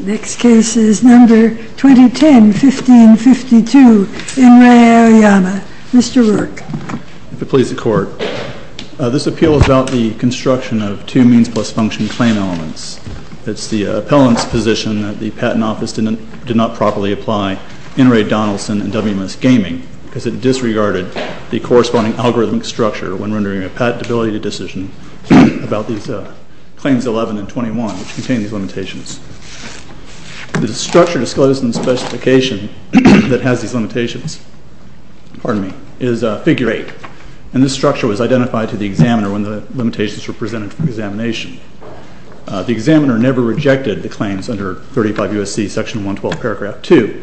Next case is No. 2010, 1552, N. Ray Aoyama. Mr. Rourke. MR. ROURKE. If it pleases the Court, this appeal is about the construction of two means-plus-function claim elements. It is the appellant's position that the Patent Office did not properly apply N. Ray Donaldson and WMS Gaming because it disregarded the corresponding algorithmic structure when rendering a patentability decision about Claims 11 and 21, which contain these limitations. The structure disclosed in the specification that has these limitations is Figure 8, and this structure was identified to the examiner when the limitations were presented for examination. The examiner never rejected the claims under 35 U.S.C. Section 112, Paragraph 2,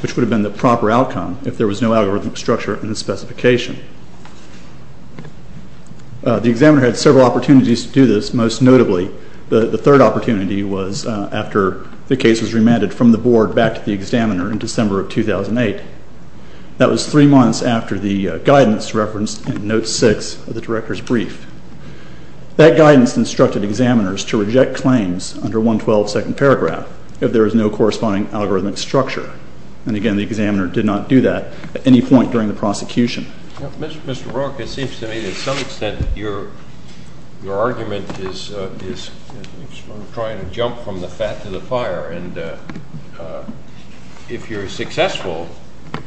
which would have been the proper outcome if there was no algorithmic structure in the specification. The examiner had several opportunities to do this, most notably, the third opportunity was after the case was remanded from the Board back to the examiner in December of 2008. That was three months after the guidance referenced in Note 6 of the Director's Brief. That guidance instructed examiners to reject claims under 112, Second Paragraph, if there was no corresponding algorithmic structure. And again, the examiner did not do that at any point during the prosecution. Mr. Brook, it seems to me that to some extent your argument is trying to jump from the fat to the fire. And if you're successful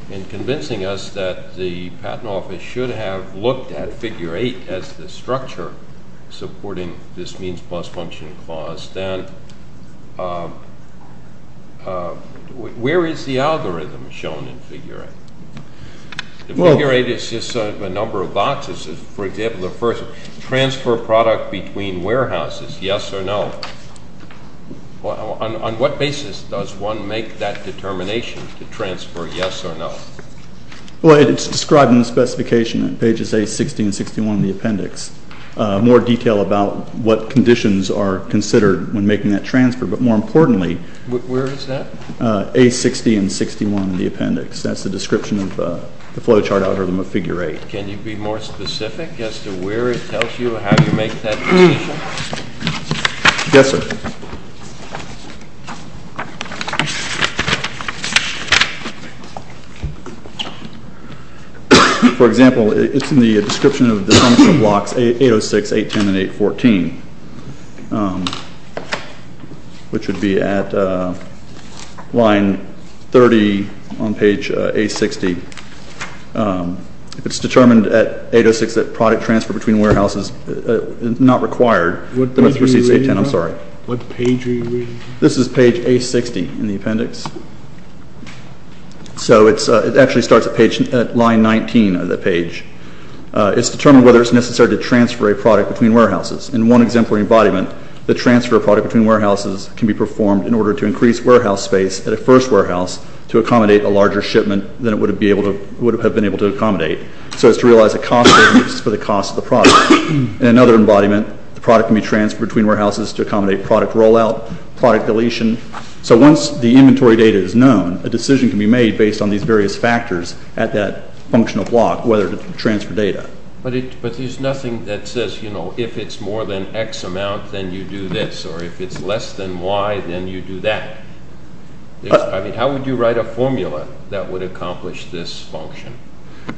in convincing us that the Patent Office should have looked at Figure 8 as the structure supporting this Means Plus Function clause, then where is the algorithm shown in Figure 8? Figure 8 is just a number of boxes. For example, the first, transfer product between warehouses, yes or no. On what basis does one make that determination to transfer yes or no? Well, it's described in the specification in pages A60 and 61 of the appendix. More detail about what conditions are considered when making that transfer, but more importantly where is that? A60 and 61 in the appendix. That's the description of the flow chart algorithm of Figure 8. Can you be more specific as to where it tells you how you make that determination? Yes, sir. For example, it's in the description of the blocks 806, 810, and 814, which would be at line 30 on page A60. It's determined at 806 that product transfer between warehouses is not required. What page are you reading? This is page A60 in the appendix. So it actually starts at line 19 of the page. It's determined whether it's necessary to transfer a product between warehouses. In one exemplary embodiment, the transfer of product between warehouses can be performed in order to increase warehouse space at a first warehouse to accommodate a larger shipment than it would have been able to accommodate, so as to realize a cost for the cost of the product. In another embodiment, the product can be transferred between warehouses to accommodate product rollout, product deletion. So once the inventory data is known, a decision can be made based on these various factors at that functional block, whether to transfer data. But there's nothing that says if it's more than X amount, then you do this, or if it's less than Y, then you do that. How would you write a formula that would accomplish this function?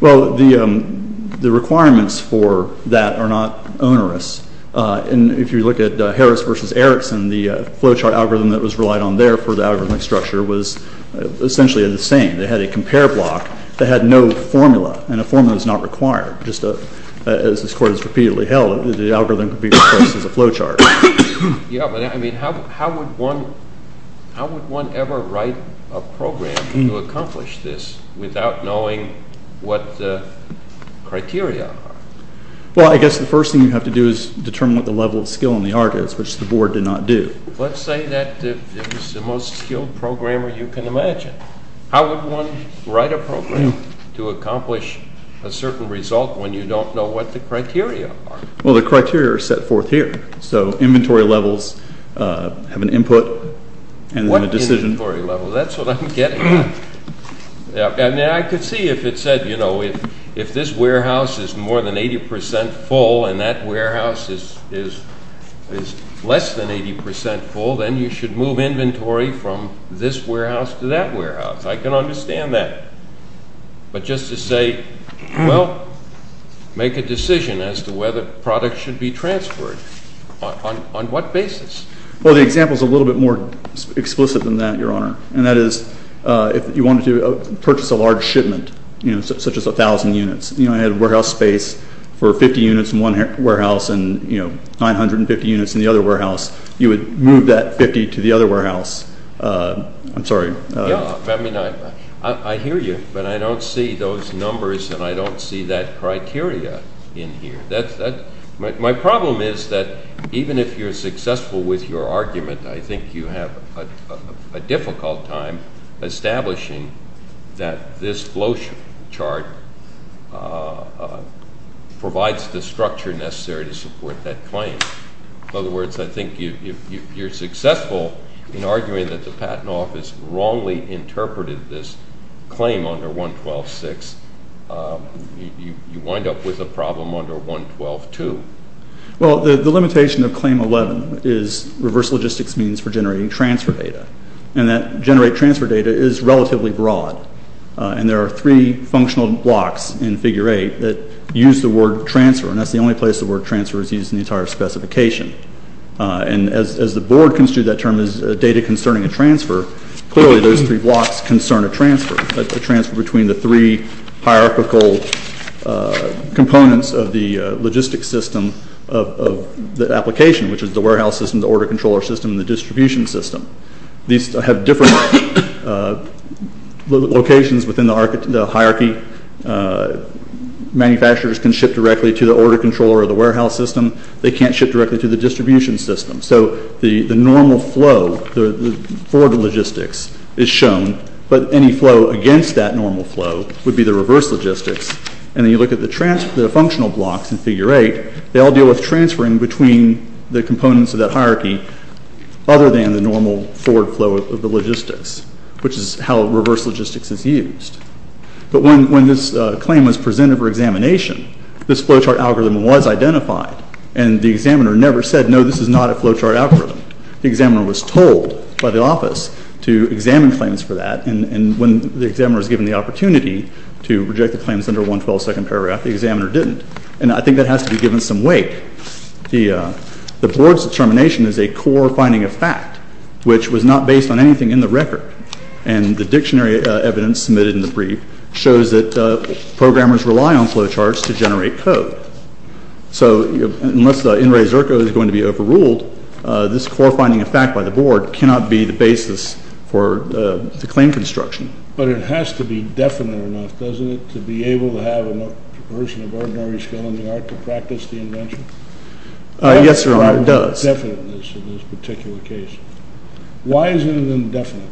Well, the requirements for that are not onerous. If you look at Harris versus Erickson, the flowchart algorithm that was relied on there for the algorithmic structure was essentially the same. They had a compare block that had no formula, and a formula is not required. Just as this Court has repeatedly held, the algorithm could be replaced as a flowchart. Yeah, but I mean, how would one ever write a program to accomplish this without knowing what the criteria are? Well, I guess the first thing you have to do is determine what the level of skill in the art is, which the Board did not do. Let's say that it was the most skilled programmer you can imagine. How would one write a program to accomplish a certain result when you don't know what the criteria are? Well, the criteria are set forth here. So inventory levels have an input, and then a decision. What inventory level? That's what I'm getting at. And I could see if it said, you know, if this warehouse is more than 80% full, and that warehouse is less than 80% full, then you should move inventory from this warehouse to that warehouse. I can understand that. But just to say, well, make a decision as to whether products should be transferred. On what basis? Well, the example is a little bit more explicit than that, Your Honor. And that is, if you wanted to purchase a large shipment, you know, such as 1,000 units, you know, I had a warehouse space for 50 units in one warehouse, and, you know, 950 units in the other warehouse, you would move that 50 to the other warehouse. I'm sorry. Yeah, I mean, I hear you, but I don't see those numbers, and I don't see that criteria in here. My problem is that even if you're successful with your argument, I think you have a difficult time establishing that this flowchart provides the structure necessary to support that claim. In other words, I think if you're successful in arguing that the Patent Office wrongly interpreted this claim under 112.6, you wind up with a problem under 112.2. Well, the limitation of Claim 11 is reverse logistics means for generating transfer data, and that generate transfer data is relatively broad. And there are three functional blocks in Figure 8 that use the word transfer, and that's the only place the word transfer is used in the entire specification. And as the board construed that term as data concerning a transfer, clearly those three blocks concern a transfer, a transfer between the three hierarchical components of the logistics system of the application, which is the warehouse system, the order controller system, and the distribution system. These have different locations within the hierarchy. Manufacturers can ship directly to the order controller of the warehouse system. They can't ship directly to the distribution system. So the normal flow for the logistics is shown, but any flow against that normal flow would be the reverse logistics. And then you look at the functional blocks in Figure 8, they all deal with transferring between the components of that hierarchy other than the normal forward flow of the logistics, which is how reverse logistics is used. But when this claim was submitted for examination, this flowchart algorithm was identified, and the examiner never said, no, this is not a flowchart algorithm. The examiner was told by the office to examine claims for that, and when the examiner was given the opportunity to reject the claims under 112 second paragraph, the examiner didn't. And I think that has to be given some weight. The board's determination is a core finding of fact, which was not based on anything in the record. And the dictionary evidence submitted in the brief shows that programmers rely on flowcharts to generate code. So unless NRA ZERCO is going to be overruled, this core finding of fact by the board cannot be the basis for the claim construction. But it has to be definite enough, doesn't it, to be able to have a person of ordinary skill in the art to practice the invention? Yes, Your Honor, it does. How is it indefinite in this particular case? Why is it indefinite?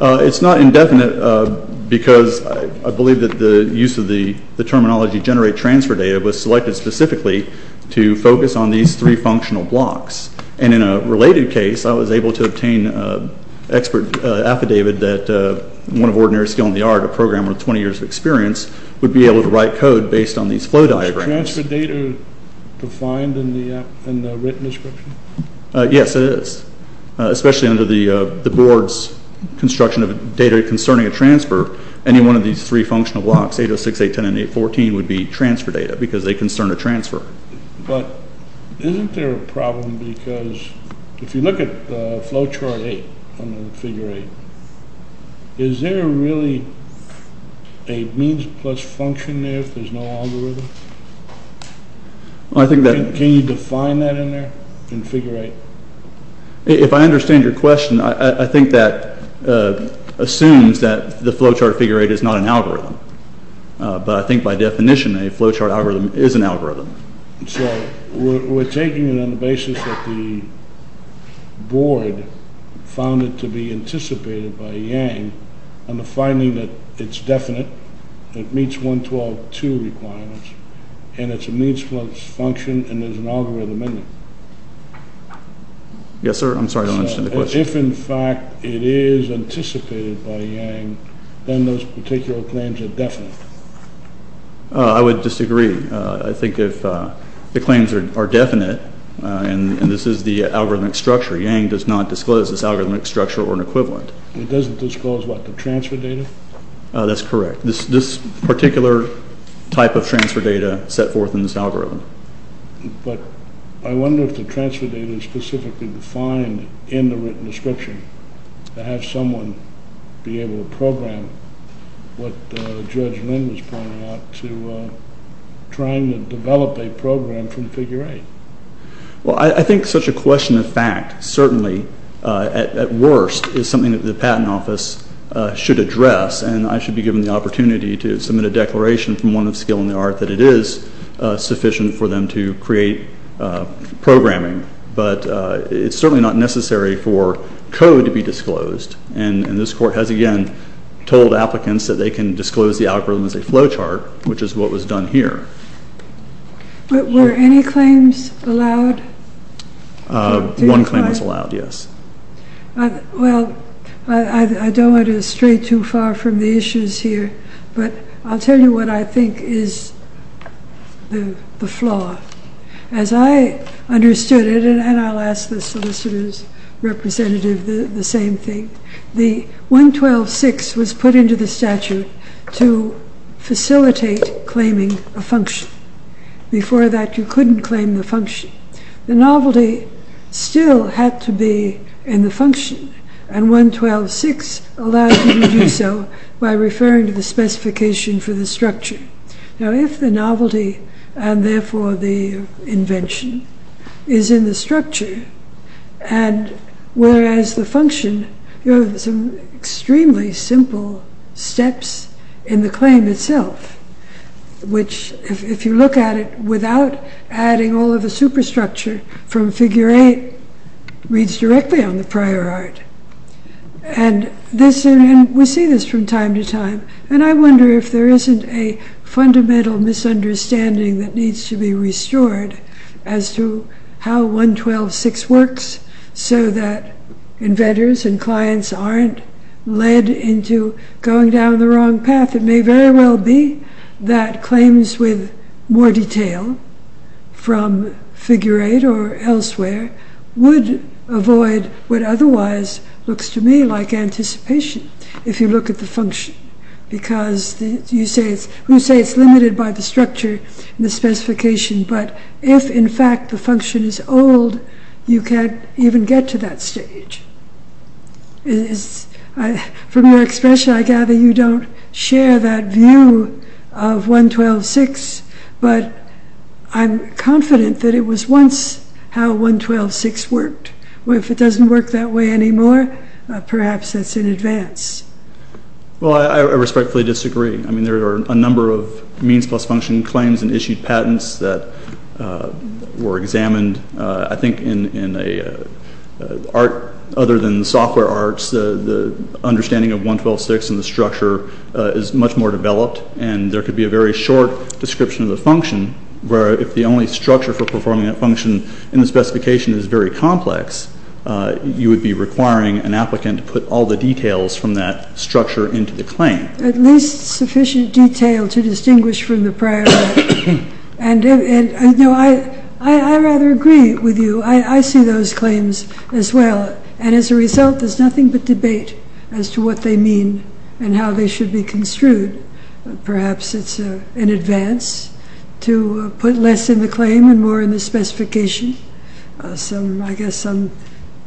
It's not indefinite because I believe that the use of the terminology generate transfer data was selected specifically to focus on these three functional blocks. And in a related case, I was able to obtain an expert affidavit that one of ordinary skill in the art, a programmer with 20 years of experience, would be able to write code based on these flow diagrams. Is transfer data defined in the written description? Yes, it is. Especially under the board's construction of data concerning a transfer, any one of these three functional blocks, 806, 810, and 814, would be transfer data because they concern a transfer. But isn't there a problem because if you look at flowchart 8, under figure 8, is there really a means plus function there if there's no means plus function in figure 8? If I understand your question, I think that assumes that the flowchart figure 8 is not an algorithm. But I think by definition, a flowchart algorithm is an algorithm. So we're taking it on the basis that the board found it to be anticipated by Yang on the finding that it's definite, it meets 112.2 requirements, and it's a means plus function, and there's an algorithm in it. Yes, sir. I'm sorry, I don't understand the question. If in fact it is anticipated by Yang, then those particular claims are definite. I would disagree. I think if the claims are definite, and this is the algorithmic structure, Yang does not disclose this algorithmic structure or an equivalent. It doesn't disclose what, the transfer data? That's correct. This particular type of transfer data set forth in this algorithm. But I wonder if the transfer data is specifically defined in the written description to have someone be able to program what Judge Lin was pointing out to trying to develop a program from figure 8. Well I think such a question of fact certainly at worst is something that the Patent Office should address, and I should be given the opportunity to submit a declaration from one skill in the art that it is sufficient for them to create programming. But it's certainly not necessary for code to be disclosed, and this Court has again told applicants that they can disclose the algorithm as a flow chart, which is what was done here. Were any claims allowed? One claim was allowed, yes. Well I don't want to stray too far from the issues here, but I'll tell you what I think is the flaw. As I understood it, and I'll ask the solicitor's representative the same thing, the 112.6 was put into the statute to facilitate claiming a function. Before that you couldn't claim the function. The novelty still had to be in the function, and Now if the novelty, and therefore the invention, is in the structure, and whereas the function you have some extremely simple steps in the claim itself, which if you look at it without adding all of the superstructure from figure 8, reads directly on the prior art, and we see this from time to time, and I wonder if there isn't a fundamental misunderstanding that needs to be restored as to how 112.6 works, so that inventors and clients aren't led into going down the wrong path. It may very well be that claims with more detail from figure 8 or elsewhere would avoid what otherwise looks to me like anticipation. If you look at the function, because you say it's limited by the structure and the specification, but if in fact the function is old, you can't even get to that stage. From your expression I gather you don't share that view of 112.6, but I'm confident that it was once how 112.6 worked. If it doesn't work that way anymore, perhaps it's in advance. Well I respectfully disagree. I mean there are a number of means plus function claims and issued patents that were examined, I think in an art other than software arts, the understanding of 112.6 and the structure is much more developed, and there could be a very short description of the function, where if the only structure for performing that function in the specification is very complex, you would be requiring an applicant to put all the details from that structure into the claim. At least sufficient detail to distinguish from the prior one. I rather agree with you. I see those claims as well, and as a result there's nothing but debate as to what they mean and how they should be construed. Perhaps it's in advance to put less in the claim and more in the specification. I guess some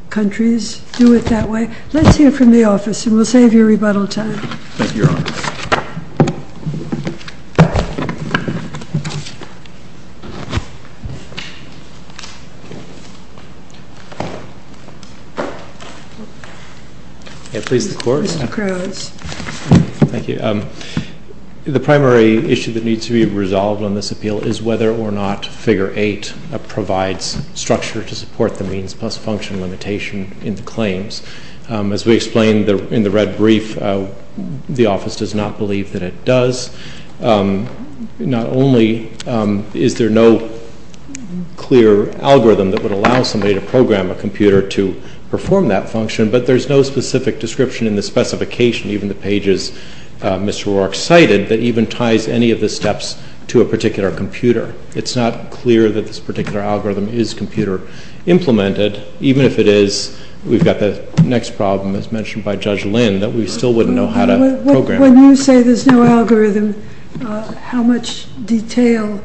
countries do it that way. Let's hear from the office, and we'll save you rebuttal time. Thank you, Your Honor. May it please the Court? Mr. Crowes. Thank you. The primary issue that needs to be resolved on this appeal is whether or not Figure 8 provides structure to support the means plus function limitation in the claims. As we explained in the red brief, the office does not believe that it does. Not only is there no clear algorithm that would allow somebody to program a computer to perform that function, but there's no specific description in the specification, even the pages Mr. Rourke cited, that even ties any of the steps to a particular computer. It's not clear that this particular algorithm is computer implemented. Even if it is, we've got the next problem as mentioned by Judge Lynn, that we still wouldn't know how to program it. When you say there's no algorithm, how much detail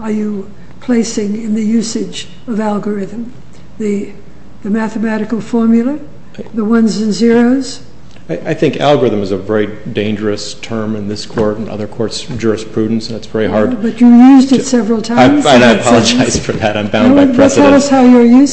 are you placing in the usage of algorithm? The mathematical formula? The ones and zeros? I think algorithm is a very dangerous term in this Court and other Courts' jurisprudence. But you used it several times. I apologize for that. I'm bound by precedence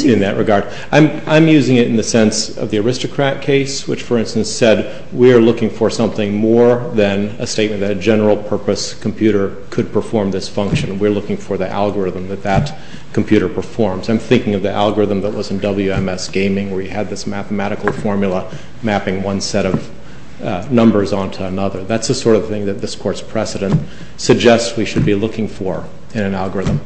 in that regard. I'm using it in the sense of the aristocrat case, which, for instance, said we're looking for something more than a statement that a general purpose computer could perform this function. We're looking for the algorithm that that computer performs. I'm thinking of the algorithm that was in WMS Gaming, where you had this mathematical formula mapping one set of numbers onto another. That's the sort of thing that this Court's precedent suggests we should be looking for in an algorithm.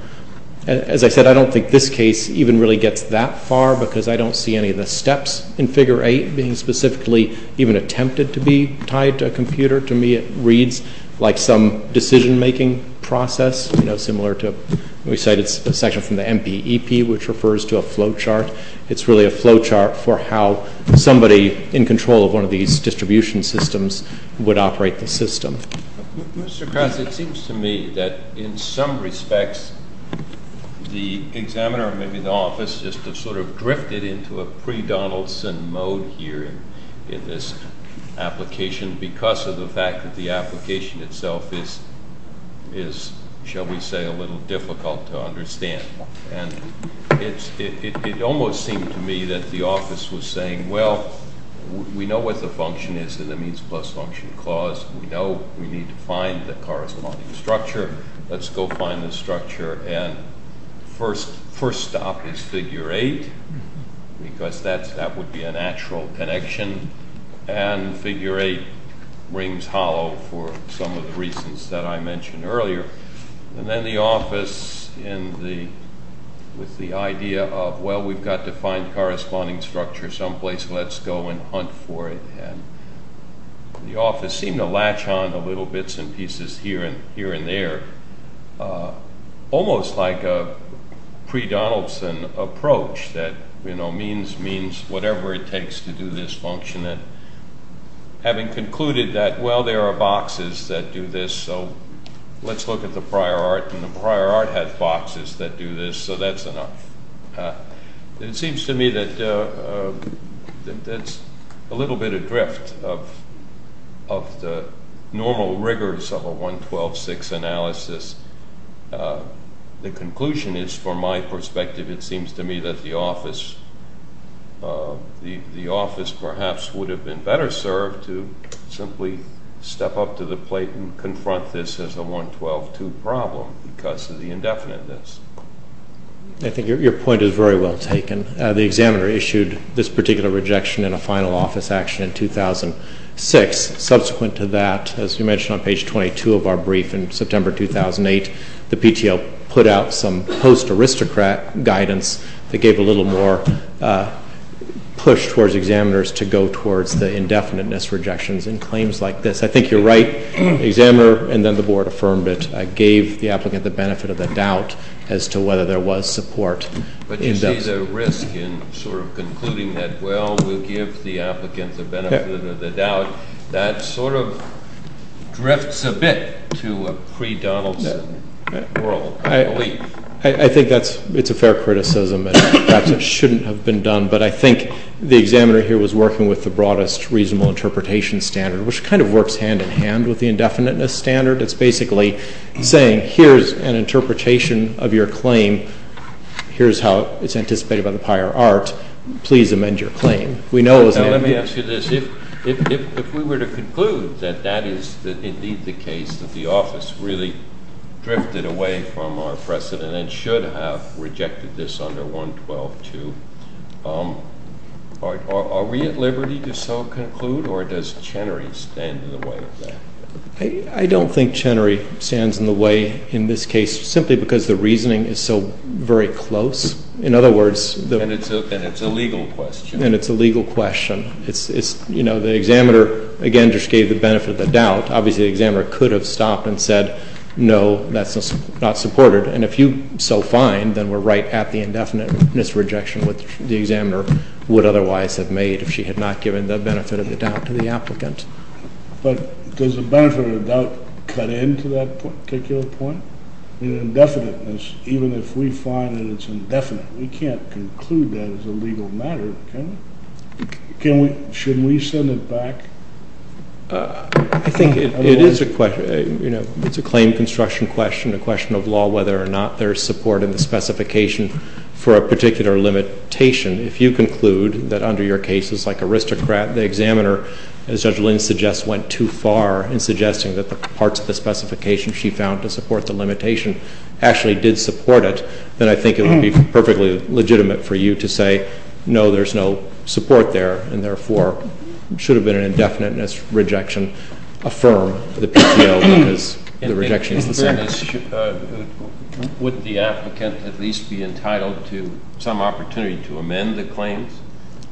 As I said, I don't think this case even really gets that far, because I don't see any of the steps in Figure 8 being specifically even attempted to be tied to a computer. To me, it reads like some decision-making process, similar to the section from the MPEP, which refers to a flowchart. It's really a flowchart for how somebody in control of one of these distribution systems would operate the system. Mr. Krause, it seems to me that, in some respects, the examiner or maybe the office just sort of drifted into a pre-Donaldson mode here in this application, because of the fact that the application itself is, shall we say, a little difficult to understand. It almost seemed to me that the office was saying, well, we know what the function is in the means plus function clause. We know we need to find the corresponding structure. Let's go find the structure. And first stop is Figure 8, because that would be a natural connection. And Figure 8 rings hollow for some of the reasons that I mentioned earlier. And then the office, with the idea of, well, we've got to find the corresponding structure someplace. Let's go and hunt for it. The office seemed to latch on to little bits and pieces here and there, almost like a pre-Donaldson approach that means means whatever it takes to do this function. Having concluded that, well, there are boxes that do this, so let's look at the prior art, and the prior art has boxes that do this, so that's enough. It seems to me that that's a little bit adrift of the normal rigors of a 112-6 analysis. The conclusion is, from my perspective, it seems to me that the office perhaps would have been better served to simply step up to the plate and confront this as a 112-2 problem because of the indefiniteness. I think your point is very well taken. The examiner issued this particular rejection in a final office action in 2006. Subsequent to that, as you mentioned on page 22 of our brief in September 2008, the PTO put out some post-aristocrat guidance that gave a little more push towards examiners to go towards the indefiniteness rejections in claims like this. I think you're right. The examiner and then the board affirmed it, gave the applicant the benefit of the doubt as to whether there was support. But you see the risk in sort of concluding that, well, we'll give the applicant the benefit of the doubt. That sort of drifts a bit to a pre-Donaldson world, I believe. I think it's a fair criticism and perhaps it shouldn't have been done, but I think the examiner here was working with the broadest reasonable interpretation standard, which kind of works hand-in-hand with the indefiniteness standard. It's basically saying here's an interpretation of your claim. Here's how it's anticipated by the prior art. Please amend your claim. Let me ask you this. If we were to conclude that that is indeed the case, that the office really drifted away from our precedent and should have rejected this under 112-2, are we at liberty to so conclude, or does Chenery stand in the way of that? I don't think Chenery stands in the way in this case, simply because the reasoning is so very close. In other words, And it's a legal question. And it's a legal question. You know, the examiner, again, just gave the benefit of the doubt. Obviously, the examiner could have stopped and said, no, that's not supported. And if you so find, then we're right at the indefiniteness rejection, which the examiner would otherwise have made if she had not given the benefit of the doubt to the applicant. But does the benefit of the doubt cut into that particular point? In indefiniteness, even if we find that it's indefinite, we can't conclude that as a legal matter, can we? Should we send it back? I think it is a claim construction question, a question of law, whether or not there's support in the specification for a particular limitation. If you conclude that under your cases, like Aristocrat, the examiner, as Judge Lynn suggests, went too far in suggesting that the parts of the specification she found to support the limitation actually did support it, then I think it would be perfectly legitimate for you to say, no, there's no support there, and therefore should have been an indefiniteness rejection. Affirm the PTO, because the rejection is the same. Would the applicant at least be entitled to some opportunity to amend the claims?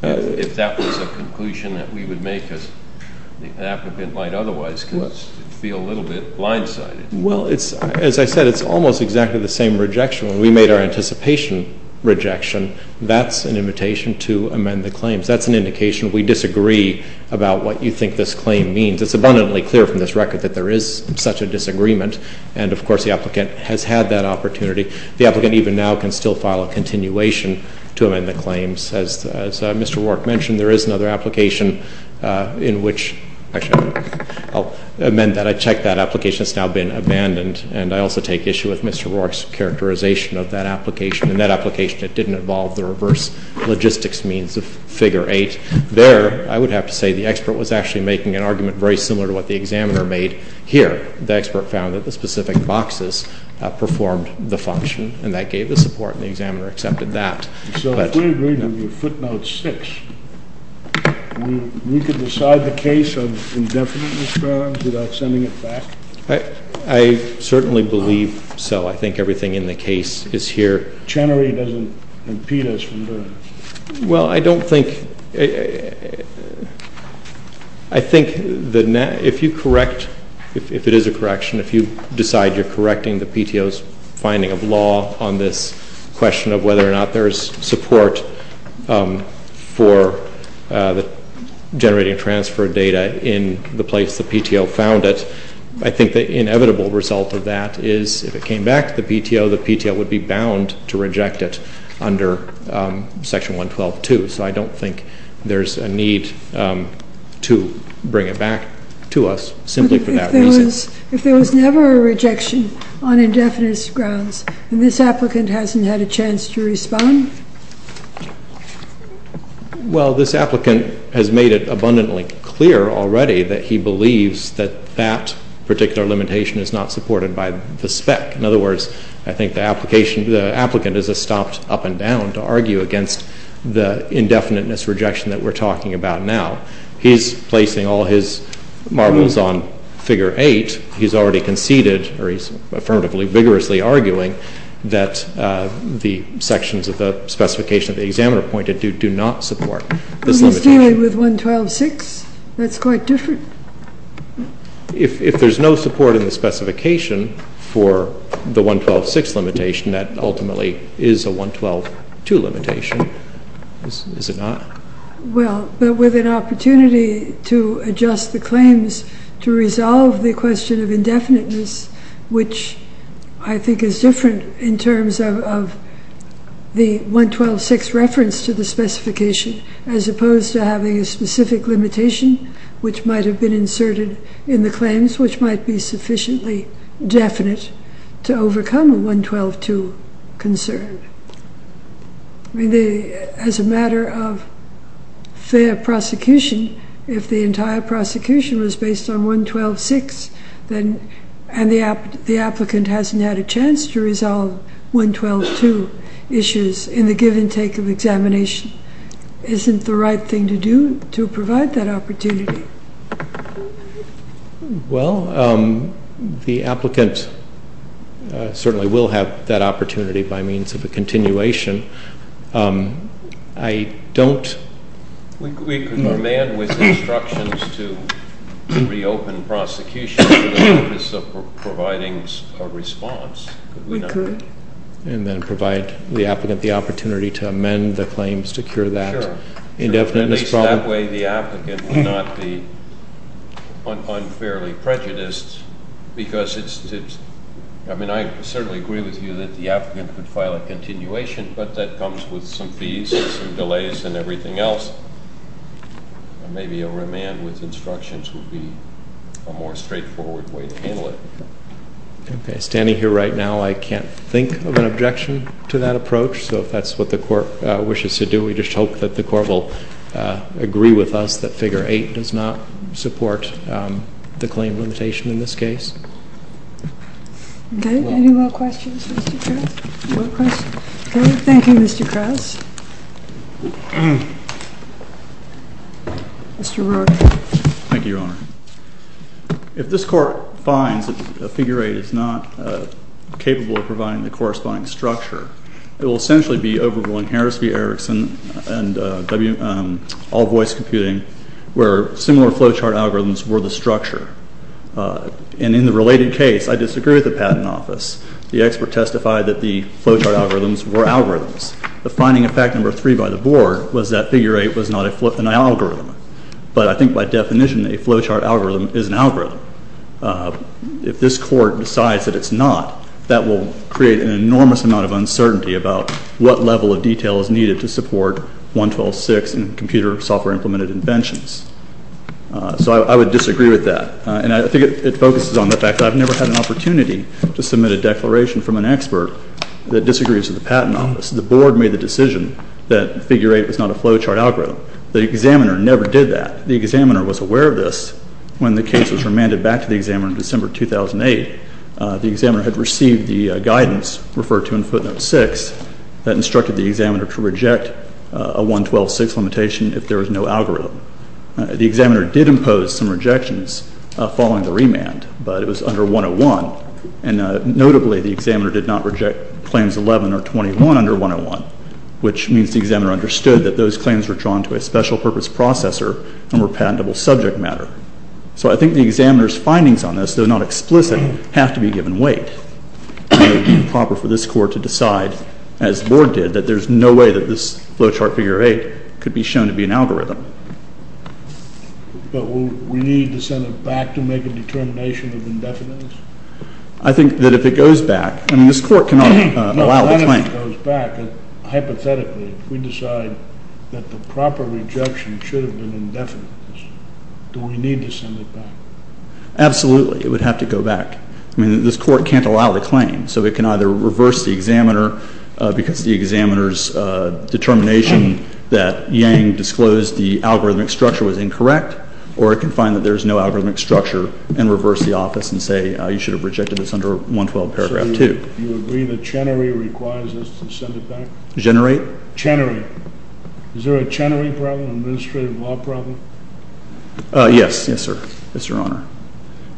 If that was a conclusion that we would make, the applicant might otherwise feel a little bit blindsided. Well, as I said, it's almost exactly the same rejection. When we made our anticipation rejection, that's an invitation to amend the claims. That's an indication we disagree about what you think this claim means. It's abundantly clear from this record that there is such a disagreement, and, of course, the applicant has had that opportunity. The applicant even now can still file a continuation to amend the claims. As Mr. Rourke mentioned, there is another application in which, actually, I'll amend that. I checked that application. It's now been abandoned, and I also take issue with Mr. Rourke's characterization of that application. In that application, it didn't involve the reverse logistics means of Figure 8. There, I would have to say, the expert was actually making an argument very similar to what the examiner made here. The expert found that the specific boxes performed the function, and that gave the support, and the examiner accepted that. So if we agreed on your footnote 6, we could decide the case of indefinite misdemeanors without sending it back? I certainly believe so. I think everything in the case is here. Chenery doesn't impede us from doing it. Well, I don't think, I think if you correct, if it is a correction, if you decide you're correcting the PTO's finding of law on this question of whether or not there is support for generating transfer data in the place the PTO found it, I think the inevitable result of that is if it came back to the PTO, the PTO would be bound to reject it under Section 112.2. So I don't think there's a need to bring it back to us simply for that reason. If there was never a rejection on indefinite grounds, then this applicant hasn't had a chance to respond? Well, this applicant has made it abundantly clear already that he believes that that particular limitation is not supported by the spec. In other words, I think the application, the applicant is a stopped up and down to argue against the indefiniteness rejection that we're talking about now. He's placing all his marbles on Figure 8. He's already conceded, or he's affirmatively vigorously arguing, that the sections of the specification that the examiner pointed to do not support this limitation. But he's dealing with 112.6? That's quite different. If there's no support in the specification for the 112.6 limitation, that ultimately is a 112.2 limitation, is it not? Well, but with an opportunity to adjust the claims to resolve the question of indefiniteness, which I think is different in terms of the 112.6 reference to the specification, as opposed to having a specific limitation which might have been inserted in the claims, which might be sufficiently definite to overcome a 112.2 concern. I mean, as a matter of fair prosecution, if the entire prosecution was based on 112.6 and the applicant hasn't had a chance to resolve 112.2 issues in the give and take of examination, isn't the right thing to do to provide that opportunity? Well, the applicant certainly will have that opportunity by means of a continuation. I don't- We could command with instructions to reopen prosecution for the purpose of providing a response, could we not? We could. And then provide the applicant the opportunity to amend the claims to cure that indefiniteness problem. In that way, the applicant would not be unfairly prejudiced because it's- I mean, I certainly agree with you that the applicant could file a continuation, but that comes with some fees and some delays and everything else. Maybe a remand with instructions would be a more straightforward way to handle it. Okay. Standing here right now, I can't think of an objection to that approach. So if that's what the court wishes to do, we just hope that the court will agree with us that Figure 8 does not support the claim limitation in this case. Okay. Any more questions, Mr. Krauss? Thank you, Mr. Krauss. Mr. Roark. Thank you, Your Honor. If this court finds that Figure 8 is not capable of providing the corresponding structure, it will essentially be overruling Harris v. Erickson and all voice computing where similar flowchart algorithms were the structure. And in the related case, I disagree with the Patent Office. The expert testified that the flowchart algorithms were algorithms. The finding of fact number three by the Board was that Figure 8 was not an algorithm. But I think by definition, a flowchart algorithm is an algorithm. If this court decides that it's not, that will create an enormous amount of uncertainty about what level of detail is needed to support 112.6 and computer software implemented inventions. So I would disagree with that. And I think it focuses on the fact that I've never had an opportunity to submit a declaration from an expert that disagrees with the Patent Office. The Board made the decision that Figure 8 was not a flowchart algorithm. The examiner never did that. The examiner was aware of this when the case was remanded back to the examiner in December 2008. The examiner had received the guidance referred to in Footnote 6 that instructed the examiner to reject a 112.6 limitation if there was no algorithm. The examiner did impose some rejections following the remand, but it was under 101. And notably, the examiner did not reject Claims 11 or 21 under 101, which means the examiner understood that those claims were drawn to a special purpose processor and were patentable subject matter. So I think the examiner's findings on this, though not explicit, have to be given weight. It would be improper for this Court to decide, as the Board did, that there's no way that this flowchart Figure 8 could be shown to be an algorithm. But we need to send it back to make a determination of indefinite? I think that if it goes back, I mean, this Court cannot allow the claim. If it goes back, hypothetically, if we decide that the proper rejection should have been indefinite, do we need to send it back? Absolutely. It would have to go back. I mean, this Court can't allow the claim. So it can either reverse the examiner because the examiner's determination that Yang disclosed the algorithmic structure was incorrect, or it can find that there's no algorithmic structure and reverse the office and say you should have rejected this under 112 paragraph 2. If you agree that Chenery requires us to send it back? Generate? Chenery. Is there a Chenery problem, an administrative law problem? Yes. Yes, sir. Yes, Your Honor.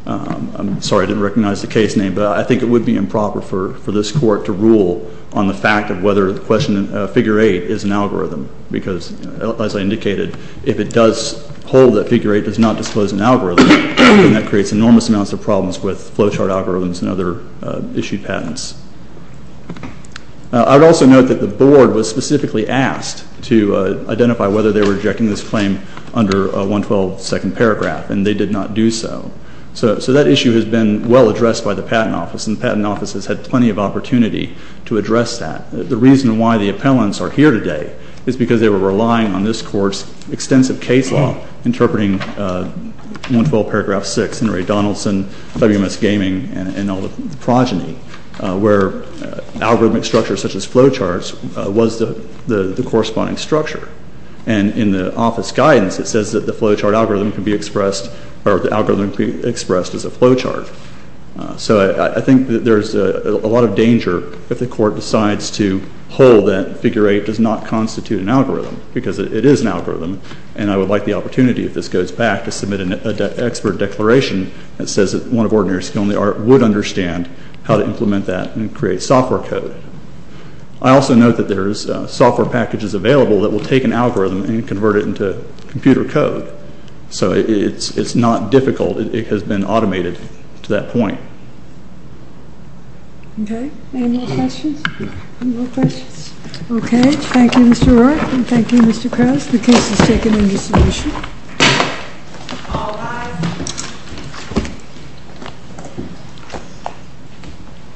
I'm sorry I didn't recognize the case name, but I think it would be improper for this Court to rule on the fact of whether the question of Figure 8 is an algorithm. Because, as I indicated, if it does hold that Figure 8 does not disclose an algorithm, that creates enormous amounts of problems with flowchart algorithms and other issued patents. I would also note that the Board was specifically asked to identify whether they were rejecting this claim under 112 second paragraph, and they did not do so. So that issue has been well addressed by the Patent Office, and the Patent Office has had plenty of opportunity to address that. The reason why the appellants are here today is because they were relying on this Court's extensive case law interpreting 112 paragraph 6, Henry Donaldson, WMS Gaming, and all the progeny, where algorithmic structures such as flowcharts was the corresponding structure. And in the Office guidance, it says that the flowchart algorithm can be expressed, or the algorithm can be expressed as a flowchart. So I think that there's a lot of danger if the Court decides to hold that Figure 8 does not constitute an algorithm, because it is an algorithm, and I would like the opportunity, if this goes back, to submit an expert declaration that says that one of ordinary skill in the art would understand how to implement that and create software code. I also note that there is software packages available that will take an algorithm and convert it into computer code. So it's not difficult. It has been automated to that point. Okay. Any more questions? No questions. Okay. Thank you, Mr. Roy, and thank you, Mr. Krause. The case is taken into submission.